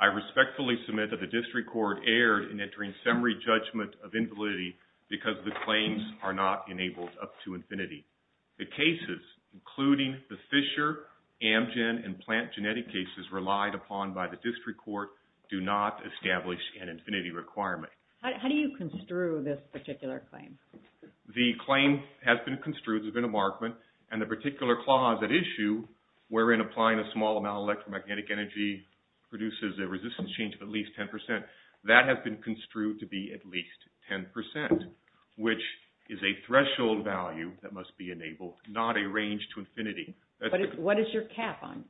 I respectfully submit that the District Court erred in entering summary judgment of invalidity because the claims are not enabled up to infinity. The cases, including the Fisher, Amgen, and Plant Genetic cases relied upon by the District Court do not establish an infinity requirement. How do you construe this particular claim? The claim has been construed, there's been a markment, and the particular clause at issue wherein applying a small amount of electromagnetic energy produces a resistance change of at least 10%. That has been construed to be at least 10%, which is a threshold value that must be enabled, not a range to infinity. What is your cap on,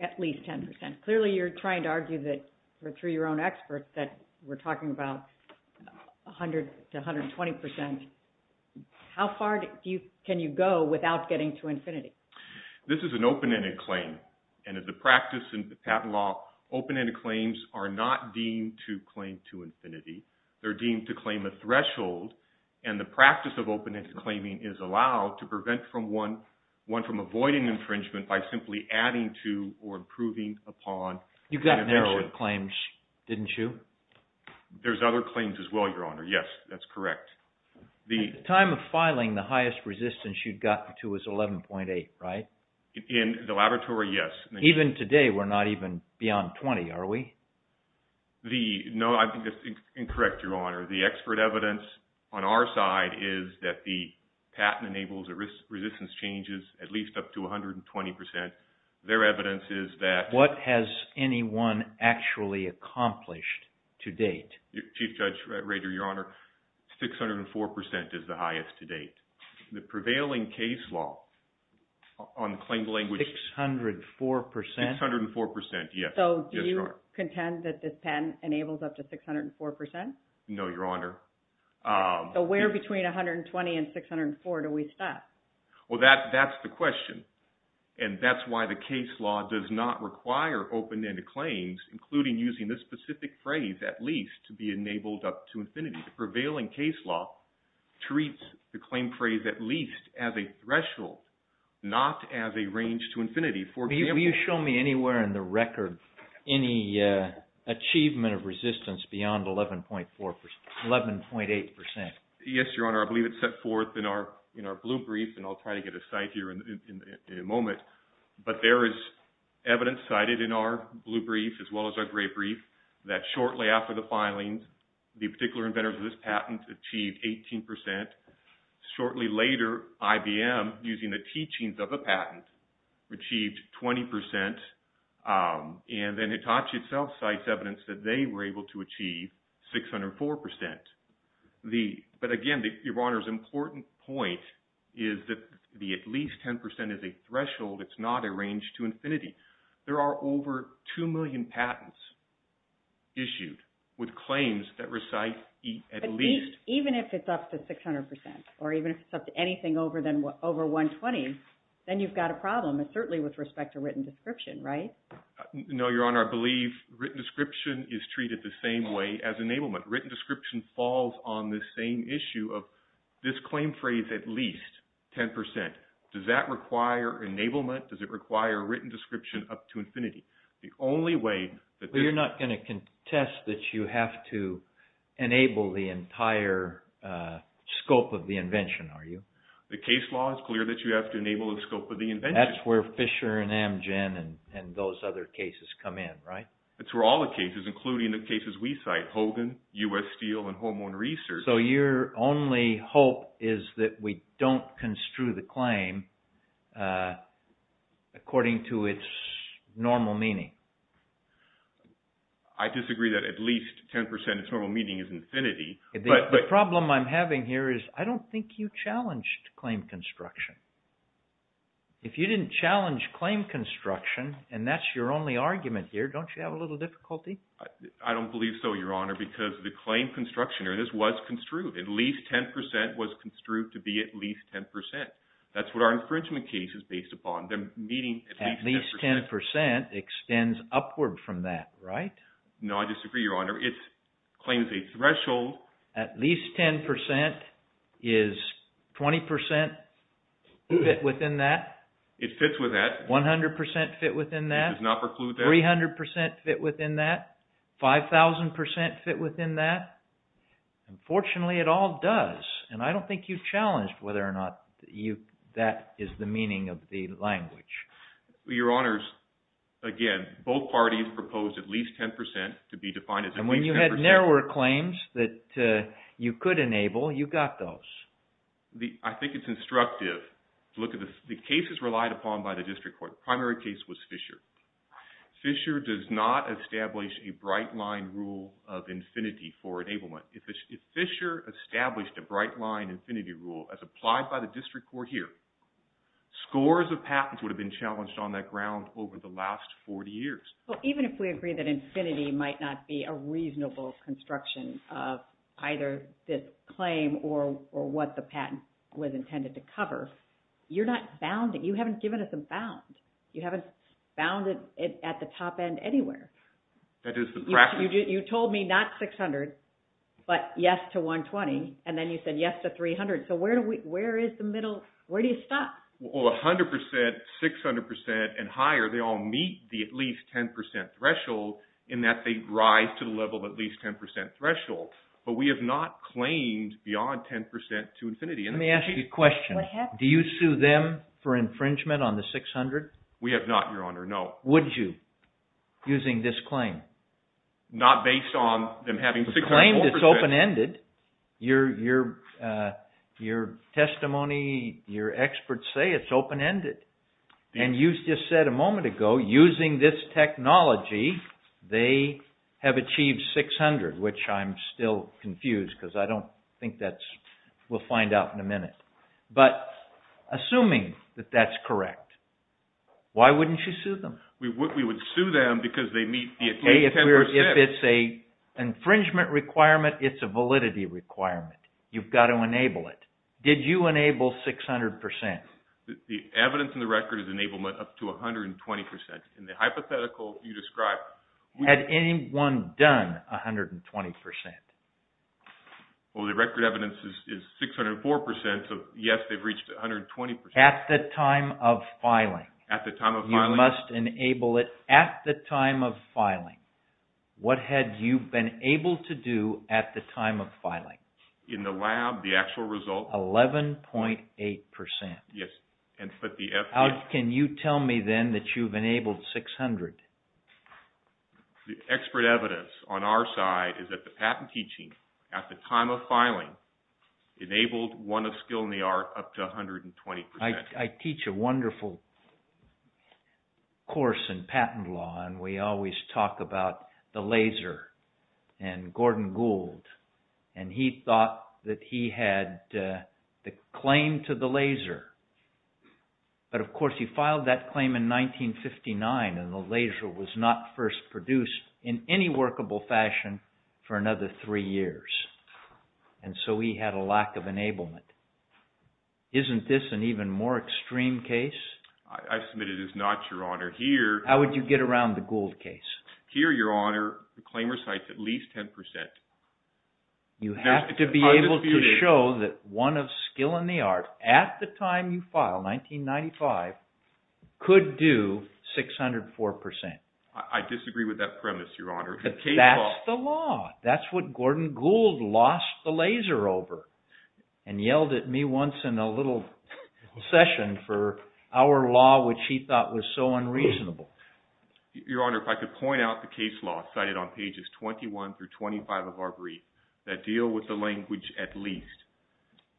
at least 10%? Clearly you're trying to argue that, through your own experts, that we're talking about 100 to 120%. How far can you go without getting to infinity? This is an open-ended claim, and as a practice in patent law, open-ended claims are not deemed to claim to infinity. They're deemed to claim a threshold, and the practice of open-ended claiming is allowed to prevent one from avoiding infringement by simply adding to or improving upon. You got an inch of claims, didn't you? There's other claims as well, Your Honor, yes, that's correct. At the time of filing, the highest resistance you'd gotten to was 11.8%, right? In the laboratory, yes. Even today, we're not even beyond 20%, are we? No, I think that's incorrect, Your Honor. The expert evidence on our side is that the patent enables resistance changes at least up to 120%. Their evidence is that... What has anyone actually accomplished to date? Chief Judge Rader, Your Honor, 604% is the highest to date. The prevailing case law on claim language... 604%? 604%, yes. So, do you contend that this patent enables up to 604%? No, Your Honor. So, where between 120 and 604 do we stop? Well, that's the question, and that's why the case law does not require open-ended claims, including using this specific phrase, at least, to be enabled up to infinity. The prevailing case law treats the claim phrase at least as a threshold, not as a range to infinity, for example... Will you show me anywhere in the record any achievement of resistance beyond 11.8%? Yes, Your Honor. I believe it's set forth in our blue brief, and I'll try to get a cite here in a moment, but there is evidence cited in our blue brief, as well as our gray brief, that shortly after the filings, the particular inventors of this patent achieved 18%. Shortly later, IBM, using the teachings of the patent, achieved 20%. And then Hitachi itself cites evidence that they were able to achieve 604%. But again, Your Honor's important point is that the at least 10% is a threshold, it's not a range to infinity. There are over 2 million patents issued with claims that recite at least... Even if it's up to 600%, or even if it's up to anything over 120, then you've got a problem, certainly with respect to written description, right? No, Your Honor. I believe written description is treated the same way as enablement. Written description falls on the same issue of this claim phrase, at least 10%. Does that require enablement? Does it require written description up to infinity? The only way that... You're not going to contest that you have to enable the entire scope of the invention, are you? The case law is clear that you have to enable the scope of the invention. That's where Fisher and Amgen and those other cases come in, right? It's for all the cases, including the cases we cite, Hogan, U.S. Steel, and Hormone Research. So your only hope is that we don't construe the claim according to its normal meaning? I disagree that at least 10% of its normal meaning is infinity, but... The problem I'm having here is I don't think you challenged claim construction. If you didn't challenge claim construction, and that's your only argument here, don't you have a little difficulty? I don't believe so, Your Honor, because the claim construction, or this was construed, at least 10% was construed to be at least 10%. That's what our infringement case is based upon. They're meeting at least 10%. At least 10% extends upward from that, right? No, I disagree, Your Honor. It claims a threshold. At least 10% is 20% fit within that? It fits with that. 100% fit within that? It does not preclude that. 300% fit within that? 5,000% fit within that? Unfortunately, it all does. And I don't think you've challenged whether or not that is the meaning of the language. Your Honors, again, both parties proposed at least 10% to be defined as at least 10%. And when you had narrower claims that you could enable, you got those. I think it's instructive to look at the cases relied upon by the district court. The primary case was Fisher. Fisher does not establish a bright line rule of infinity for enablement. If Fisher established a bright line infinity rule as applied by the district court here, scores of patents would have been challenged on that ground over the last 40 years. Well, even if we agree that infinity might not be a reasonable construction of either this claim or what the patent was intended to cover, you're not bounding. You haven't given us a bound. You haven't bounded it at the top end anywhere. That is the practice. You told me not 600, but yes to 120. And then you said yes to 300. So where do we, where is the middle, where do you stop? Well, 100%, 600% and higher, they all meet the at least 10% threshold in that they rise to the level of at least 10% threshold. But we have not claimed beyond 10% to infinity. Let me ask you a question. Do you sue them for infringement on the 600? We have not, Your Honor. No. Would you, using this claim? Not based on them having 600. The claim is open-ended. Your testimony, your experts say it's open-ended. And you just said a moment ago, using this technology, they have achieved 600, which I'm still confused because I don't think that's, we'll find out in a minute. But assuming that that's correct, why wouldn't you sue them? We would sue them because they meet the at least 10%. If it's an infringement requirement, it's a validity requirement. You've got to enable it. Did you enable 600%? The evidence in the record is enablement up to 120%. In the hypothetical you described... Had anyone done 120%? Well, the record evidence is 604%, so yes, they've reached 120%. At the time of filing. At the time of filing. You must enable it at the time of filing. What had you been able to do at the time of filing? In the lab, the actual result. 11.8%. Yes. And put the F- Can you tell me then that you've enabled 600? The expert evidence on our side is that the patent teaching at the time of filing enabled one of skill in the art up to 120%. I teach a wonderful course in patent law, and we always talk about the laser and Gordon Gould. And he thought that he had the claim to the laser. But of course, he filed that claim in 1959, and the laser was not first produced in any workable fashion for another three years. And so he had a lack of enablement. Isn't this an even more extreme case? I submit it is not, Your Honor. Here... How would you get around the Gould case? Here, Your Honor, the claim recites at least 10%. You have to be able to show that one of skill in the art at the time you file, 1995, could do 604%. I disagree with that premise, Your Honor. But that's the law. That's what Gordon Gould lost the laser over and yelled at me once in a little session for our law, which he thought was so unreasonable. Your Honor, if I could point out the case law cited on pages 21 through 25 of our brief that deal with the language at least.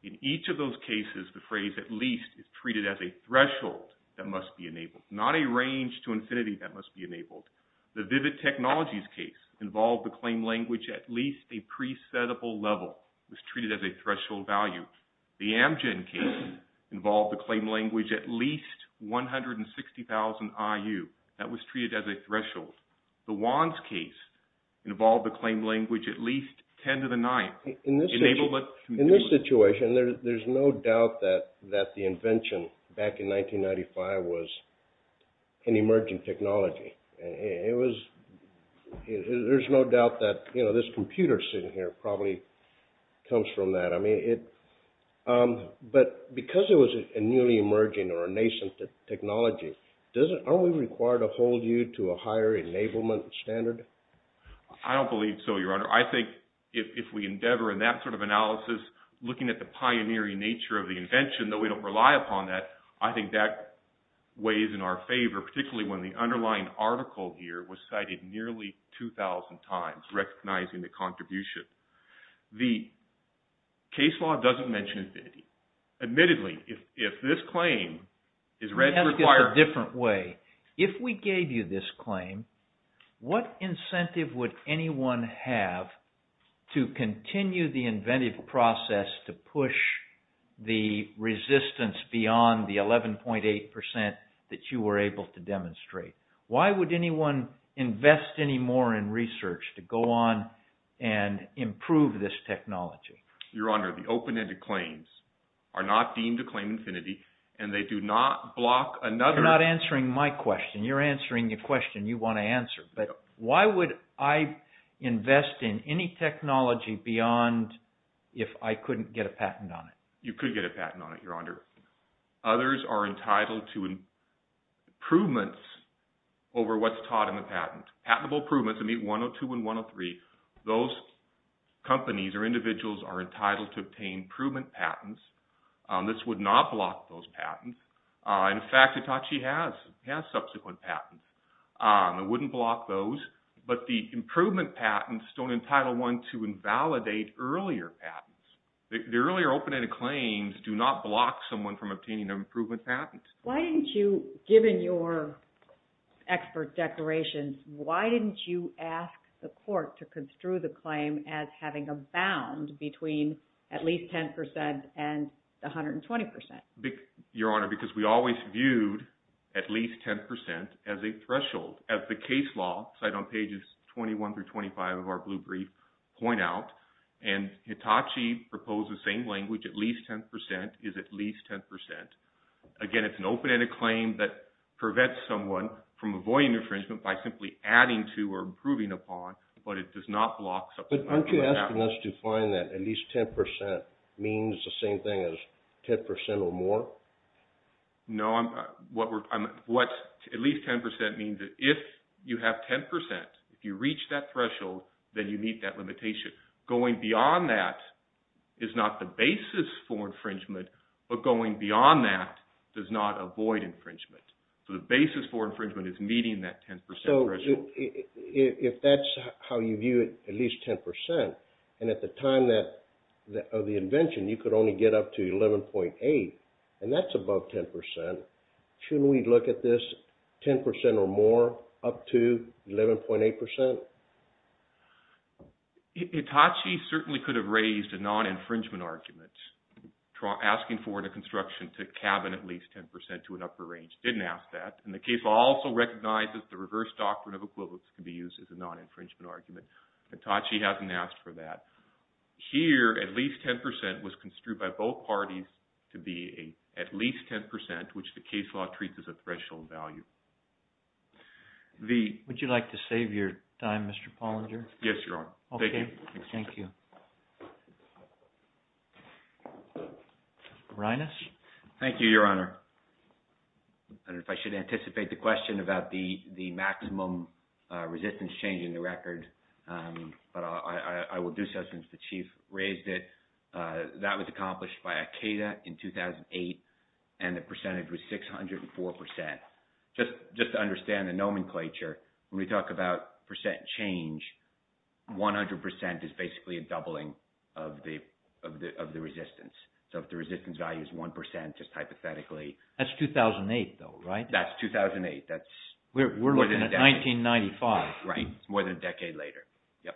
In each of those cases, the phrase at least is treated as a threshold that must be enabled, not a range to infinity that must be enabled. The Vivid Technologies case involved the claim language at least a presetable level, was treated as a threshold value. The Amgen case involved the claim language at least 160,000 I.U. That was treated as a threshold. The Wands case involved the claim language at least 10 to the ninth. In this case... In this situation, there's no doubt that the invention back in 1995 was an emerging technology. There's no doubt that this computer sitting here probably comes from that. But because it was a newly emerging or a nascent technology, aren't we required to hold you to a higher enablement standard? I don't believe so, Your Honor. I think if we endeavor in that sort of analysis, looking at the pioneering nature of the invention, though we don't rely upon that, I think that weighs in our favor, particularly when the underlying article here was cited nearly 2,000 times, recognizing the contribution. The case law doesn't mention infinity. Admittedly, if this claim is read... Let me ask it a different way. If we gave you this claim, what incentive would anyone have to continue the inventive process to push the resistance beyond the 11.8% that you were able to demonstrate? Why would anyone invest any more in research to go on and improve this technology? Your Honor, the open-ended claims are not deemed to claim infinity, and they do not block another... You're not answering my question. You're answering the question you want to answer. But why would I invest in any technology beyond if I couldn't get a patent on it? You could get a patent on it, Your Honor. Others are entitled to improvements over what's taught in the patent. Patentable improvements, I mean 102 and 103, those companies or individuals are entitled to obtain improvement patents. This would not block those patents. In fact, Hitachi has subsequent patents. It wouldn't block those. But the improvement patents don't entitle one to invalidate earlier patents. The earlier open-ended claims do not block someone from obtaining an improvement patent. Why didn't you, given your expert declarations, why didn't you ask the court to construe the claim as having a bound between at least 10% and 120%? Your Honor, because we always viewed at least 10% as a threshold. As the case law, cited on pages 21 through 25 of our blue brief, point out, and Hitachi proposed the same language, at least 10% is at least 10%. Again, it's an open-ended claim that prevents someone from avoiding infringement by simply adding to or improving upon, but it does not block something like that. But aren't you asking us to find that at least 10% means the same thing as 10% or more? No. At least 10% means that if you have 10%, if you reach that threshold, then you meet that limitation. Going beyond that is not the basis for infringement, but going beyond that does not avoid infringement. So the basis for infringement is meeting that 10% threshold. If that's how you view it, at least 10%, and at the time of the invention, you could only get up to 11.8, and that's above 10%, shouldn't we look at this 10% or more up to 11.8%? Hitachi certainly could have raised a non-infringement argument asking for the construction to cabin at least 10% to an upper range. Didn't ask that. And the case also recognizes the reverse doctrine of equivalence can be used as a non-infringement argument. Hitachi hasn't asked for that. Here, at least 10% was construed by both parties to be at least 10%, which the case law treats as a threshold value. Would you like to save your time, Mr. Pollinger? Yes, Your Honor. Okay. Thank you. Reines? Thank you, Your Honor. If I should anticipate the question about the maximum resistance change in the record, but I will do so since the Chief raised it, that was accomplished by ACADA in 2008, and the percentage was 604%. Just to understand the nomenclature, when we talk about percent change, 100% is basically a doubling of the resistance. So if the resistance value is 1%, just hypothetically. That's 2008 though, right? That's 2008. That's more than a decade. We're looking at 1995. Right. It's more than a decade later. Yep.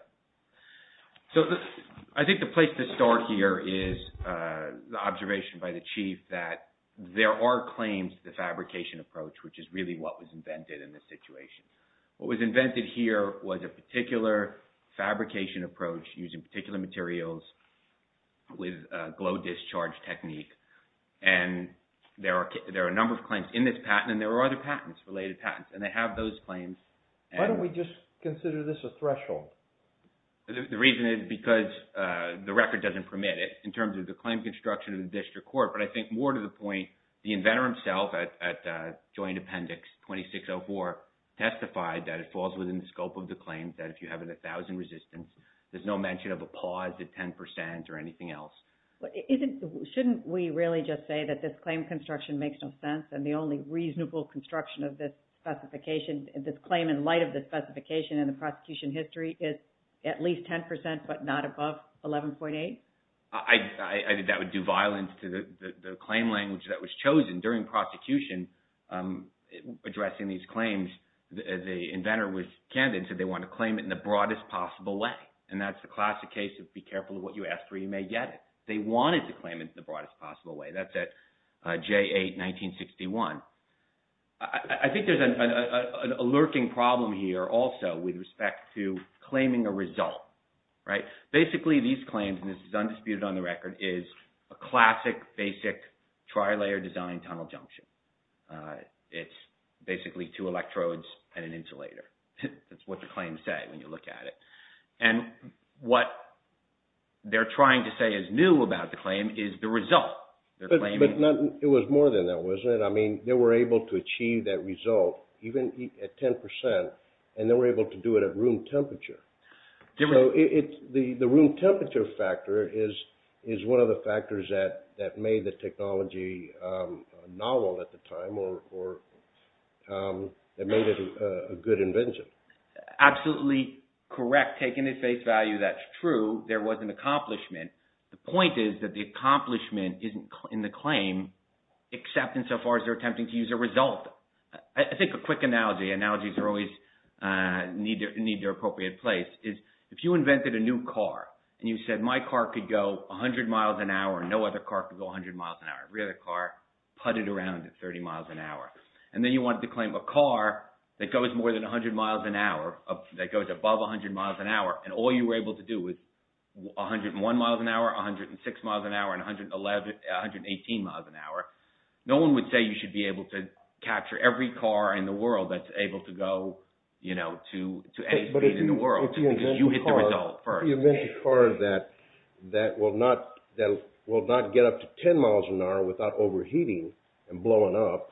So I think the place to start here is the observation by the Chief that there are claims to the fabrication approach, which is really what was invented in this situation. What was invented here was a particular fabrication approach using particular materials with a glow discharge technique. And there are a number of claims in this patent, and there are other patents, related patents, and they have those claims. Why don't we just consider this a threshold? The reason is because the record doesn't permit it, in terms of the claim construction of the district court. But I think more to the point, the inventor himself at Joint Appendix 2604 testified that it falls within the scope of the claims, that if you have a 1,000 resistance, there's no mention of a pause at 10% or anything else. But shouldn't we really just say that this claim construction makes no sense, and the only reasonable construction of this specification, this claim in light of the specification in the prosecution history, is at least 10%, but not above 11.8? I think that would do violence to the claim language that was chosen during prosecution addressing these claims. The inventor was candid and said they want to claim it in the broadest possible way. And that's the classic case of be careful of what you ask for, you may get it. They wanted to claim it in the broadest possible way. That's at J8-1961. I think there's a lurking problem here also with respect to claiming a result, right? Basically, these claims, and this is undisputed on the record, is a classic, basic tri-layer design tunnel junction. It's basically two electrodes and an insulator. That's what the claims say when you look at it. And what they're trying to say is new about the claim is the result. But it was more than that, wasn't it? They were able to achieve that result, even at 10%, and they were able to do it at room temperature. The room temperature factor is one of the factors that made the technology novel at the time, that made it a good invention. Absolutely correct. Taking it at face value, that's true. There was an accomplishment. The point is that the accomplishment isn't in the claim, except insofar as they're attempting to use a result. I think a quick analogy, analogies always need their appropriate place, is if you invented a new car, and you said my car could go 100 miles an hour, no other car could go 100 miles an hour, every other car putted around at 30 miles an hour. And then you wanted to claim a car that goes more than 100 miles an hour, that goes above 100 miles an hour, and all you were able to do was 101 miles an hour, 106 miles an hour, and 118 miles an hour, no one would say you should be able to capture every car in the world that's able to go to any speed in the world, because you hit the result first. You invent a car that will not get up to 10 miles an hour without overheating and blowing up,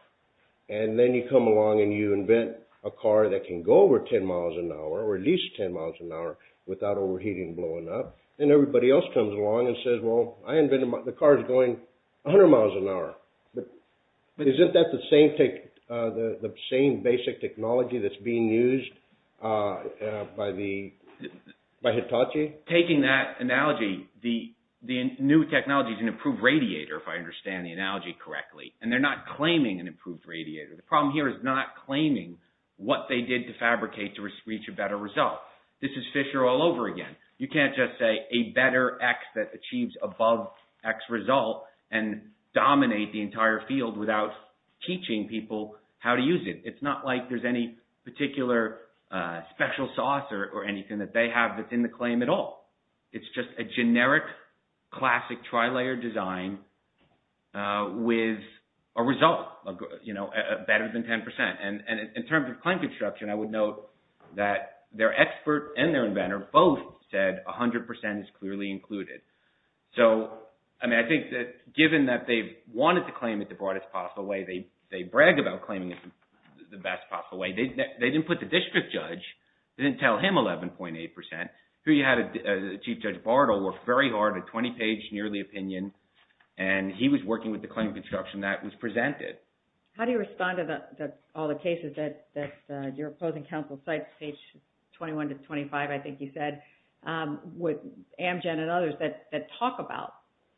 and then you come along and you invent a car that can go over 10 miles an hour, or at least 10 miles an hour, without overheating and blowing up, and everybody else comes along and says, well, I invented the car that's going 100 miles an hour, but isn't that the same basic technology that's being used by Hitachi? Taking that analogy, the new technology is an improved radiator, if I understand the analogy correctly, and they're not claiming an improved radiator. The problem here is not claiming what they did to fabricate to reach a better result. This is Fisher all over again. You can't just say a better X that achieves above X result and dominate the entire field without teaching people how to use it. It's not like there's any particular special sauce or anything that they have that's in the claim at all. It's just a generic classic tri-layer design with a result, better than 10%. And in terms of claim construction, I would note that their expert and their inventor both said 100% is clearly included. So I think that given that they wanted to claim it the broadest possible way, they bragged about claiming it the best possible way. They didn't put the district judge. They didn't tell him 11.8%. Here you had Chief Judge Bartle work very hard, a 20-page nearly opinion, and he was working with the claim construction that was presented. How do you respond to all the cases that your opposing counsel cites, page 21 to 25, I think you said, with Amgen and others that talk about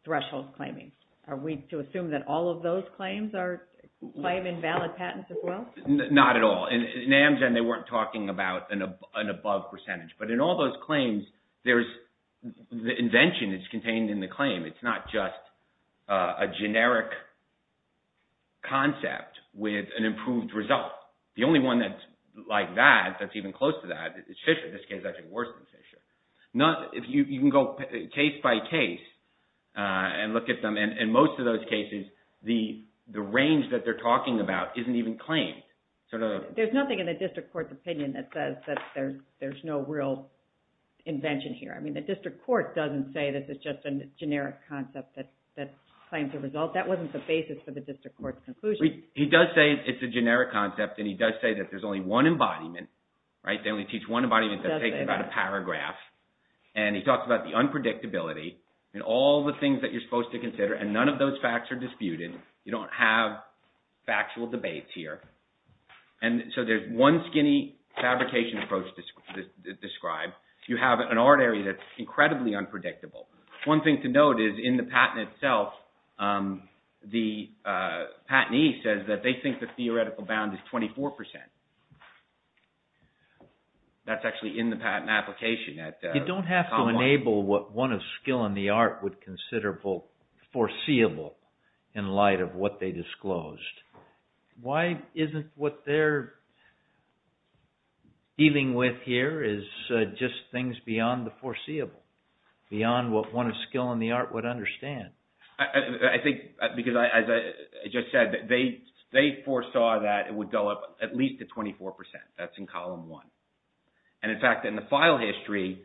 threshold claiming? Are we to assume that all of those claims claim invalid patents as well? Not at all. In Amgen, they weren't talking about an above percentage. But in all those claims, the invention is contained in the claim. It's not just a generic concept with an improved result. The only one that's like that, that's even close to that, is Fisher. This case is actually worse than Fisher. If you can go case by case and look at them, in most of those cases, the range that they're talking about isn't even claimed. There's nothing in the district court's opinion that says that there's no real invention here. The district court doesn't say this is just a generic concept that claims a result. That wasn't the basis for the district court's conclusion. He does say it's a generic concept, and he does say that there's only one embodiment. They only teach one embodiment that takes about a paragraph. He talks about the unpredictability and all the things that you're supposed to consider, and none of those facts are disputed. You don't have factual debates here. So there's one skinny fabrication approach described. You have an art area that's incredibly unpredictable. One thing to note is in the patent itself, the patentee says that they think the theoretical bound is 24%. That's actually in the patent application. You don't have to enable what one of skill in the art would consider foreseeable in light of what they disclosed. Why isn't what they're dealing with here is just things beyond the foreseeable, beyond what one of skill in the art would understand? I think because as I just said, they foresaw that it would go up at least to 24%. That's in column one. In fact, in the file history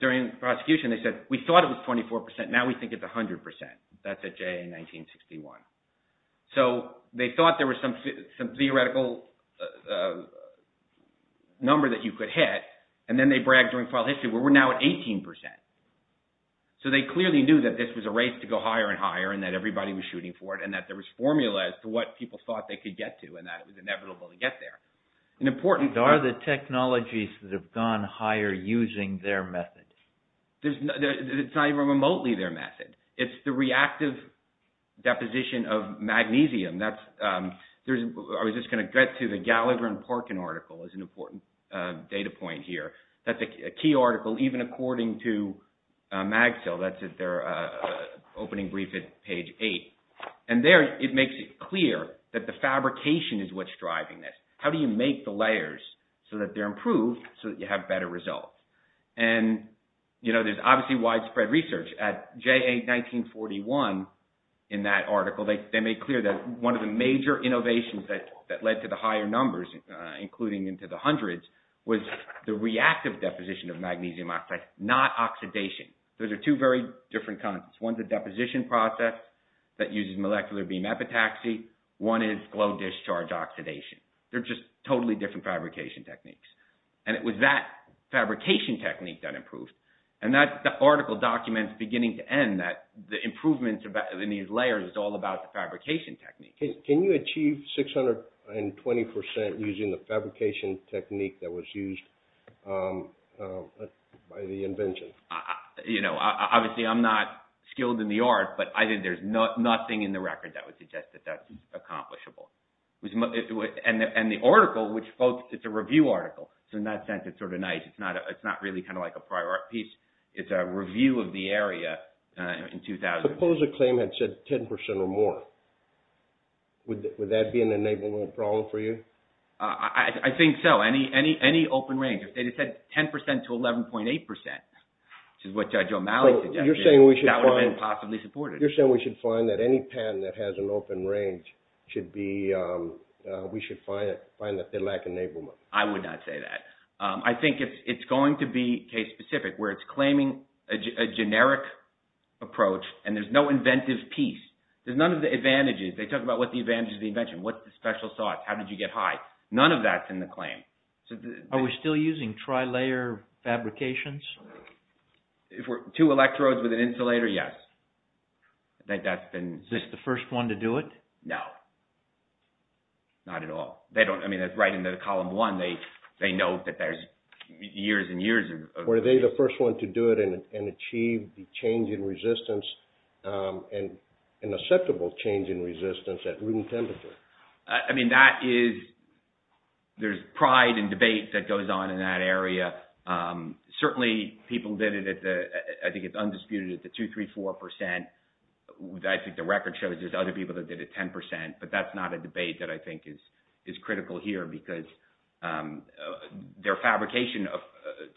during the prosecution, they said we thought it was 24%. Now we think it's 100%. That's at JA 1961. So they thought there was some theoretical number that you could hit, and then they bragged during file history, we're now at 18%. So they clearly knew that this was a race to go higher and higher, and that everybody was shooting for it, and that there was formula as to what people thought they could get to, and that it was inevitable to get there. An important... Are the technologies that have gone higher using their method? It's not even remotely their method. It's the reactive deposition of magnesium. I was just going to get to the Gallagher and Parkin article as an important data point here. That's a key article, even according to MagSale. That's at their opening brief at page eight. And there, it makes it clear that the fabrication is what's driving this. How do you make the layers so that they're improved, so that you have better results? And there's obviously widespread research. At JA 1941, in that article, they made clear that one of the major innovations that led to the higher numbers, including into the hundreds, was the reactive deposition of magnesium oxide, not oxidation. Those are two very different concepts. One's a deposition process that uses molecular beam epitaxy. One is glow discharge oxidation. They're just totally different fabrication techniques. And it was that fabrication technique that improved. And that article documents beginning to end that the improvement in these layers is all about the fabrication technique. Can you achieve 620% using the fabrication technique that was used by the invention? Obviously, I'm not skilled in the art, but I think there's nothing in the record that would suggest that that's accomplishable. And the article, it's a review article. So in that sense, it's sort of nice. It's not really kind of like a prior piece. It's a review of the area in 2000. Suppose a claim had said 10% or more. Would that be an enablement problem for you? I think so. Any open range. If they had said 10% to 11.8%, which is what Judge O'Malley suggested, that would have been possibly supported. You're saying we should find that any patent that has an open range should be, we should find that they lack enablement. I would not say that. I think it's going to be case specific where it's claiming a generic approach and there's no inventive piece. There's none of the advantages. They talk about what the advantages of the invention. What's the special thoughts? How did you get high? None of that's in the claim. Are we still using tri-layer fabrications? If we're two electrodes with an insulator, yes. I think that's been... Is this the first one to do it? No, not at all. They don't, I mean, that's right in the column one. They know that there's years and years of... Were they the first one to do it and achieve the change in resistance and an acceptable change in resistance at room temperature? I mean, that is, there's pride and debate that goes on in that area. Certainly people did it at the, I think it's undisputed at the 2, 3, 4%. I think the record shows there's other people that did it 10%, but that's not a debate that I think is critical here because their fabrication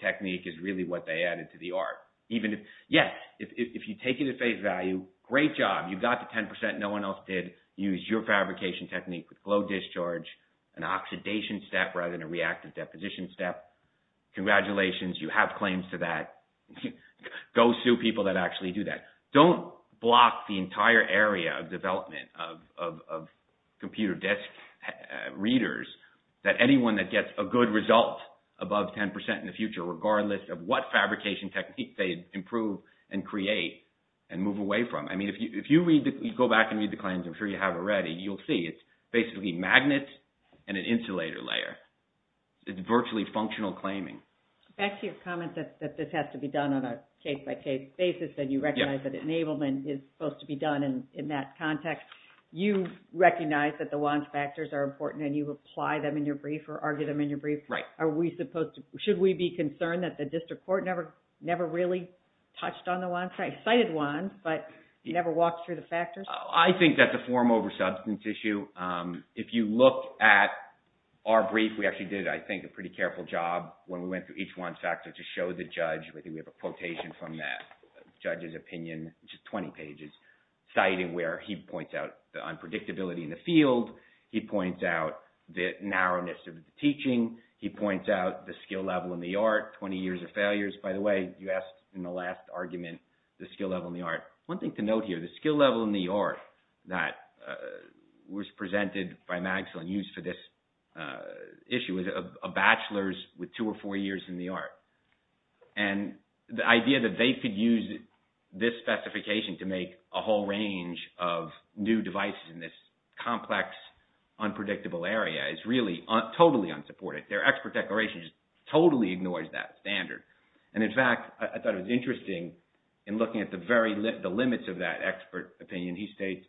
technique is really what they added to the art. Even if, yeah, if you take it at face value, great job. You got the 10%, no one else did. Use your fabrication technique with glow discharge, an oxidation step rather than a reactive deposition step. Congratulations, you have claims to that. Go sue people that actually do that. Don't block the entire area of development of computer desk readers that anyone that gets a good result above 10% in the future, regardless of what fabrication technique they improve and create and move away from. I mean, if you go back and read the claims, I'm sure you have already, you'll see it's basically magnets and an insulator layer. It's virtually functional claiming. Back to your comment that this has to be done on a case-by-case basis and you recognize that enablement is supposed to be done in that context. You recognize that the WANs factors are important and you apply them in your brief or argue them in your brief. Are we supposed to, should we be concerned that the district court never really touched on the WANs, cited WANs, but never walked through the factors? I think that's a form over substance issue. If you look at our brief, we actually did, I think, a pretty careful job when we went through each WAN factor to show the judge. I think we have a quotation from that. Judge's opinion, which is 20 pages, citing where he points out the unpredictability in the field. He points out the narrowness of the teaching. He points out the skill level in the art, 20 years of failures. By the way, you asked in the last argument, the skill level in the art. One thing to note here, the skill level in the art that was presented by Maxwell and used for this issue is a bachelor's with two or four years in the art. And the idea that they could use this specification to make a whole range of new devices in this complex, unpredictable area is really totally unsupported. Their expert declaration just totally ignores that standard. And in fact, I thought it was interesting in looking at the limits of that expert opinion. He states,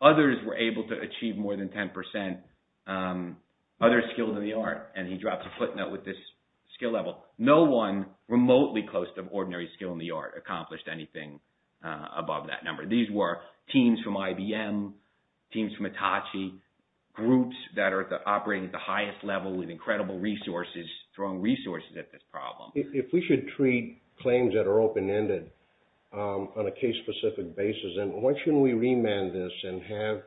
others were able to achieve more than 10% other skills in the art. And he drops a footnote with this skill level. No one remotely close to ordinary skill in the art accomplished anything above that number. These were teams from IBM, teams from Hitachi, groups that are operating at the highest level with incredible resources, strong resources at this problem. If we should treat claims that are open-ended on a case-specific basis, then why shouldn't we remand this and have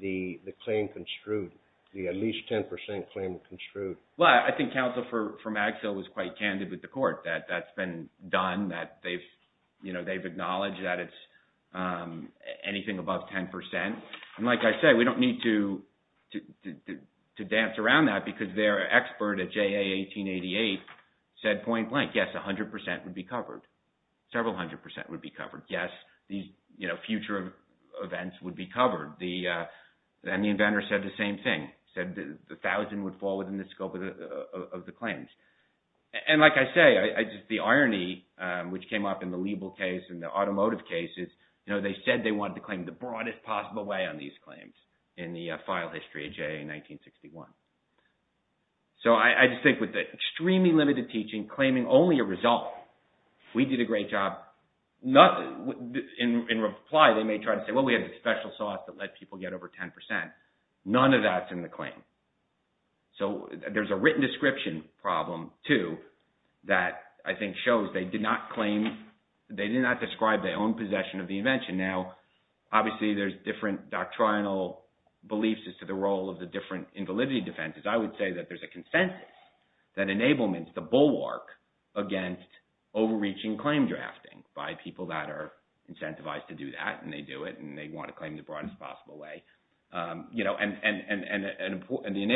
the claim construed, the at least 10% claim construed? Well, I think counsel from Axel was quite candid with the court that that's been done, that they've acknowledged that it's anything above 10%. And like I said, we don't need to dance around that because their expert at JA 1888 said point blank, yes, 100% would be covered. Several hundred percent would be covered. Yes, these future events would be covered. Then the inventor said the same thing, said the 1,000 would fall within the scope of the claims. And like I say, the irony which came up in the Liebel case and the automotive cases, they said they wanted to claim the broadest possible way on these claims in the file history of JA in 1961. So I just think with the extremely limited teaching claiming only a result, we did a great job. In reply, they may try to say, well, we have a special sauce that let people get over 10%. None of that's in the claim. So there's a written description problem too that I think shows they did not claim, they did not describe their own possession of the invention. Now, obviously there's different doctrinal beliefs as to the role of the different invalidity defenses. I would say that there's a consensus that enablements the bulwark against overreaching claim drafting by people that are incentivized to do that. And they do it and they want to claim the broadest possible way. And the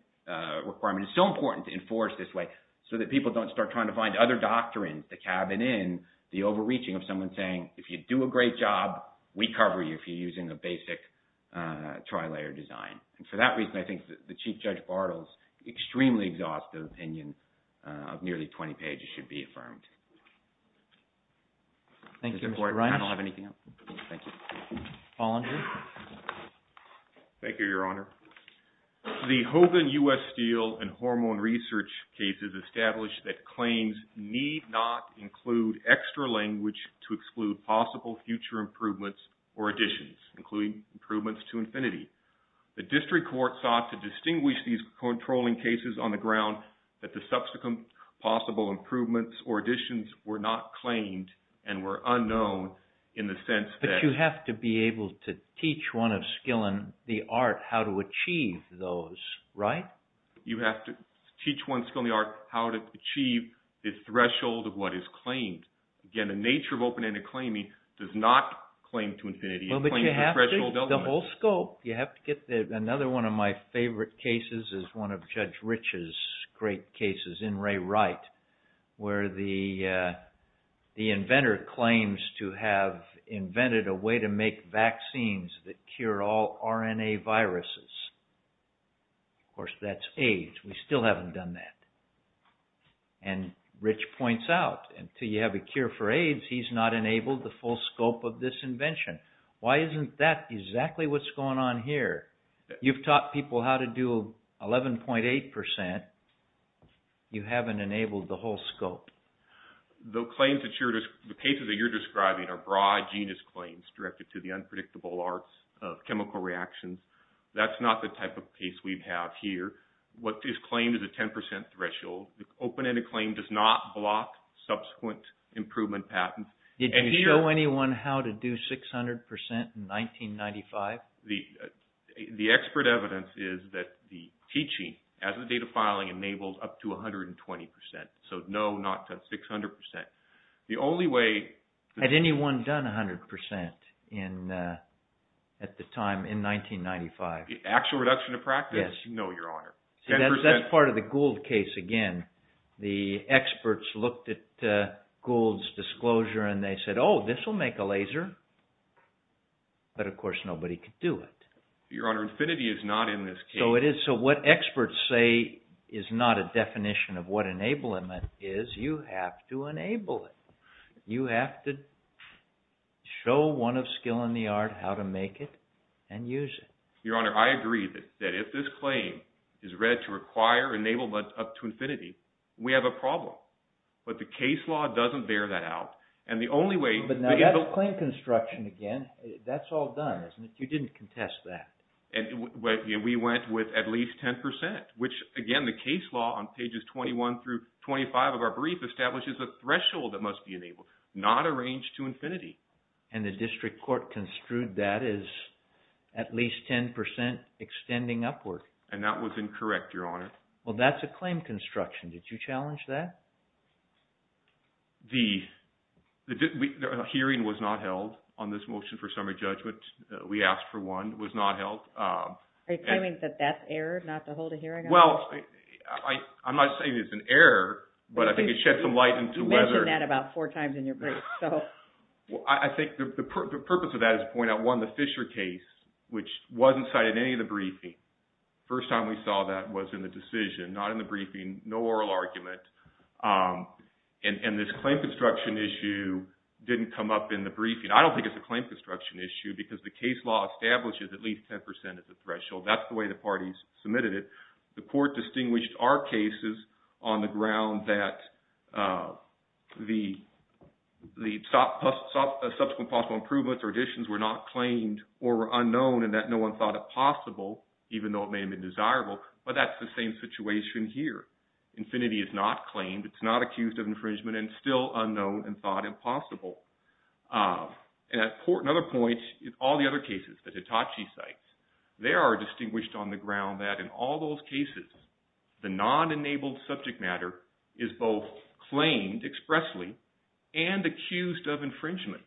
enablement requirement is so important to enforce this way so that people don't start trying to find other doctrines to cabin in the overreaching of someone saying, if you do a great job, we cover you if you're using a basic tri-layer design. And for that reason, I think that the Chief Judge Bartle's extremely exhaustive opinion of nearly 20 pages should be affirmed. Thank you, Mr. Ryan. I don't have anything else. Thank you. Bollinger. Thank you, Your Honor. The Hogan U.S. Steel and Hormone Research cases established that claims need not include extra language to exclude possible future improvements or additions, including improvements to infinity. The district court sought to distinguish these controlling cases on the ground that the subsequent possible improvements or additions were not claimed and were unknown in the sense that- You have to be able to teach one of skill in the art how to achieve those, right? You have to teach one skill in the art how to achieve the threshold of what is claimed. Again, the nature of open-ended claiming does not claim to infinity. It claims the threshold of- The whole scope. You have to get the- Another one of my favorite cases is one of Judge Rich's great cases in Ray Wright, where the inventor claims to have invented a way to make vaccines that cure all RNA viruses. Of course, that's AIDS. We still haven't done that. And Rich points out, until you have a cure for AIDS, he's not enabled the full scope of this invention. Why isn't that exactly what's going on here? You've taught people how to do 11.8%. You haven't enabled the whole scope. The claims that you're- The cases that you're describing are broad genus claims directed to the unpredictable arts of chemical reactions. That's not the type of case we have here. What is claimed is a 10% threshold. The open-ended claim does not block subsequent improvement patents. Did you show anyone how to do 600% in 1995? The expert evidence is that the teaching as the data filing enables up to 120%. No, not to 600%. The only way- Had anyone done 100% at the time in 1995? Actual reduction of practice? No, Your Honor. That's part of the Gould case again. The experts looked at Gould's disclosure and they said, oh, this will make a laser. But of course, nobody could do it. Your Honor, infinity is not in this case. So what experts say is not a definition of what enablement is. You have to enable it. You have to show one of skill in the art how to make it and use it. Your Honor, I agree that if this claim is read to require enablement up to infinity, we have a problem. But the case law doesn't bear that out. And the only way- But now that's claim construction again. That's all done, isn't it? You didn't contest that. And we went with at least 10%, which again, the case law on pages 21 through 25 of our brief establishes a threshold that must be enabled, not a range to infinity. And the district court construed that as at least 10% extending upward. And that was incorrect, Your Honor. Well, that's a claim construction. Did you challenge that? A hearing was not held on this motion for summary judgment. We asked for one. It was not held. Are you claiming that that's error, not to hold a hearing on it? Well, I'm not saying it's an error, but I think it sheds some light into whether- You mentioned that about four times in your brief. I think the purpose of that is to point out, one, the Fisher case, which wasn't cited in any of the briefing. First time we saw that was in the decision, not in the briefing, no oral argument. And this claim construction issue didn't come up in the briefing. I don't think it's a claim construction issue because the case law establishes at least 10% as a threshold. That's the way the parties submitted it. The court distinguished our cases on the ground that the subsequent possible improvements or additions were not claimed or were unknown and that no one thought it possible, even though it may have been desirable. But that's the same situation here. Infinity is not claimed. It's not accused of infringement and still unknown and thought impossible. And at another point, all the other cases that Hitachi cites, they are distinguished on the ground that in all those cases, the non-enabled subject matter is both claimed expressly and accused of infringement.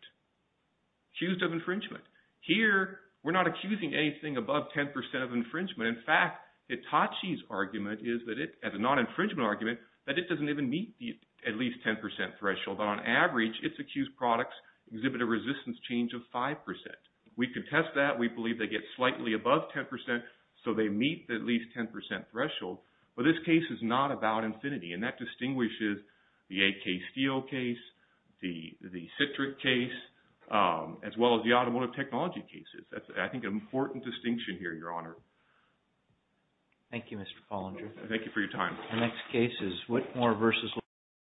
Accused of infringement. Here, we're not accusing anything above 10% of infringement. In fact, Hitachi's argument is that it, as a non-infringement argument, that it doesn't even meet at least 10% threshold. But on average, its accused products exhibit a resistance change of 5%. We contest that. We believe they get slightly above 10%, so they meet at least 10% threshold. But this case is not about infinity. And that distinguishes the AK Steel case, the Citric case, as well as the automotive technology cases. That's, I think, an important distinction here, Your Honor. Thank you, Mr. Follinger. Thank you for your time. The next case is Whitmore versus...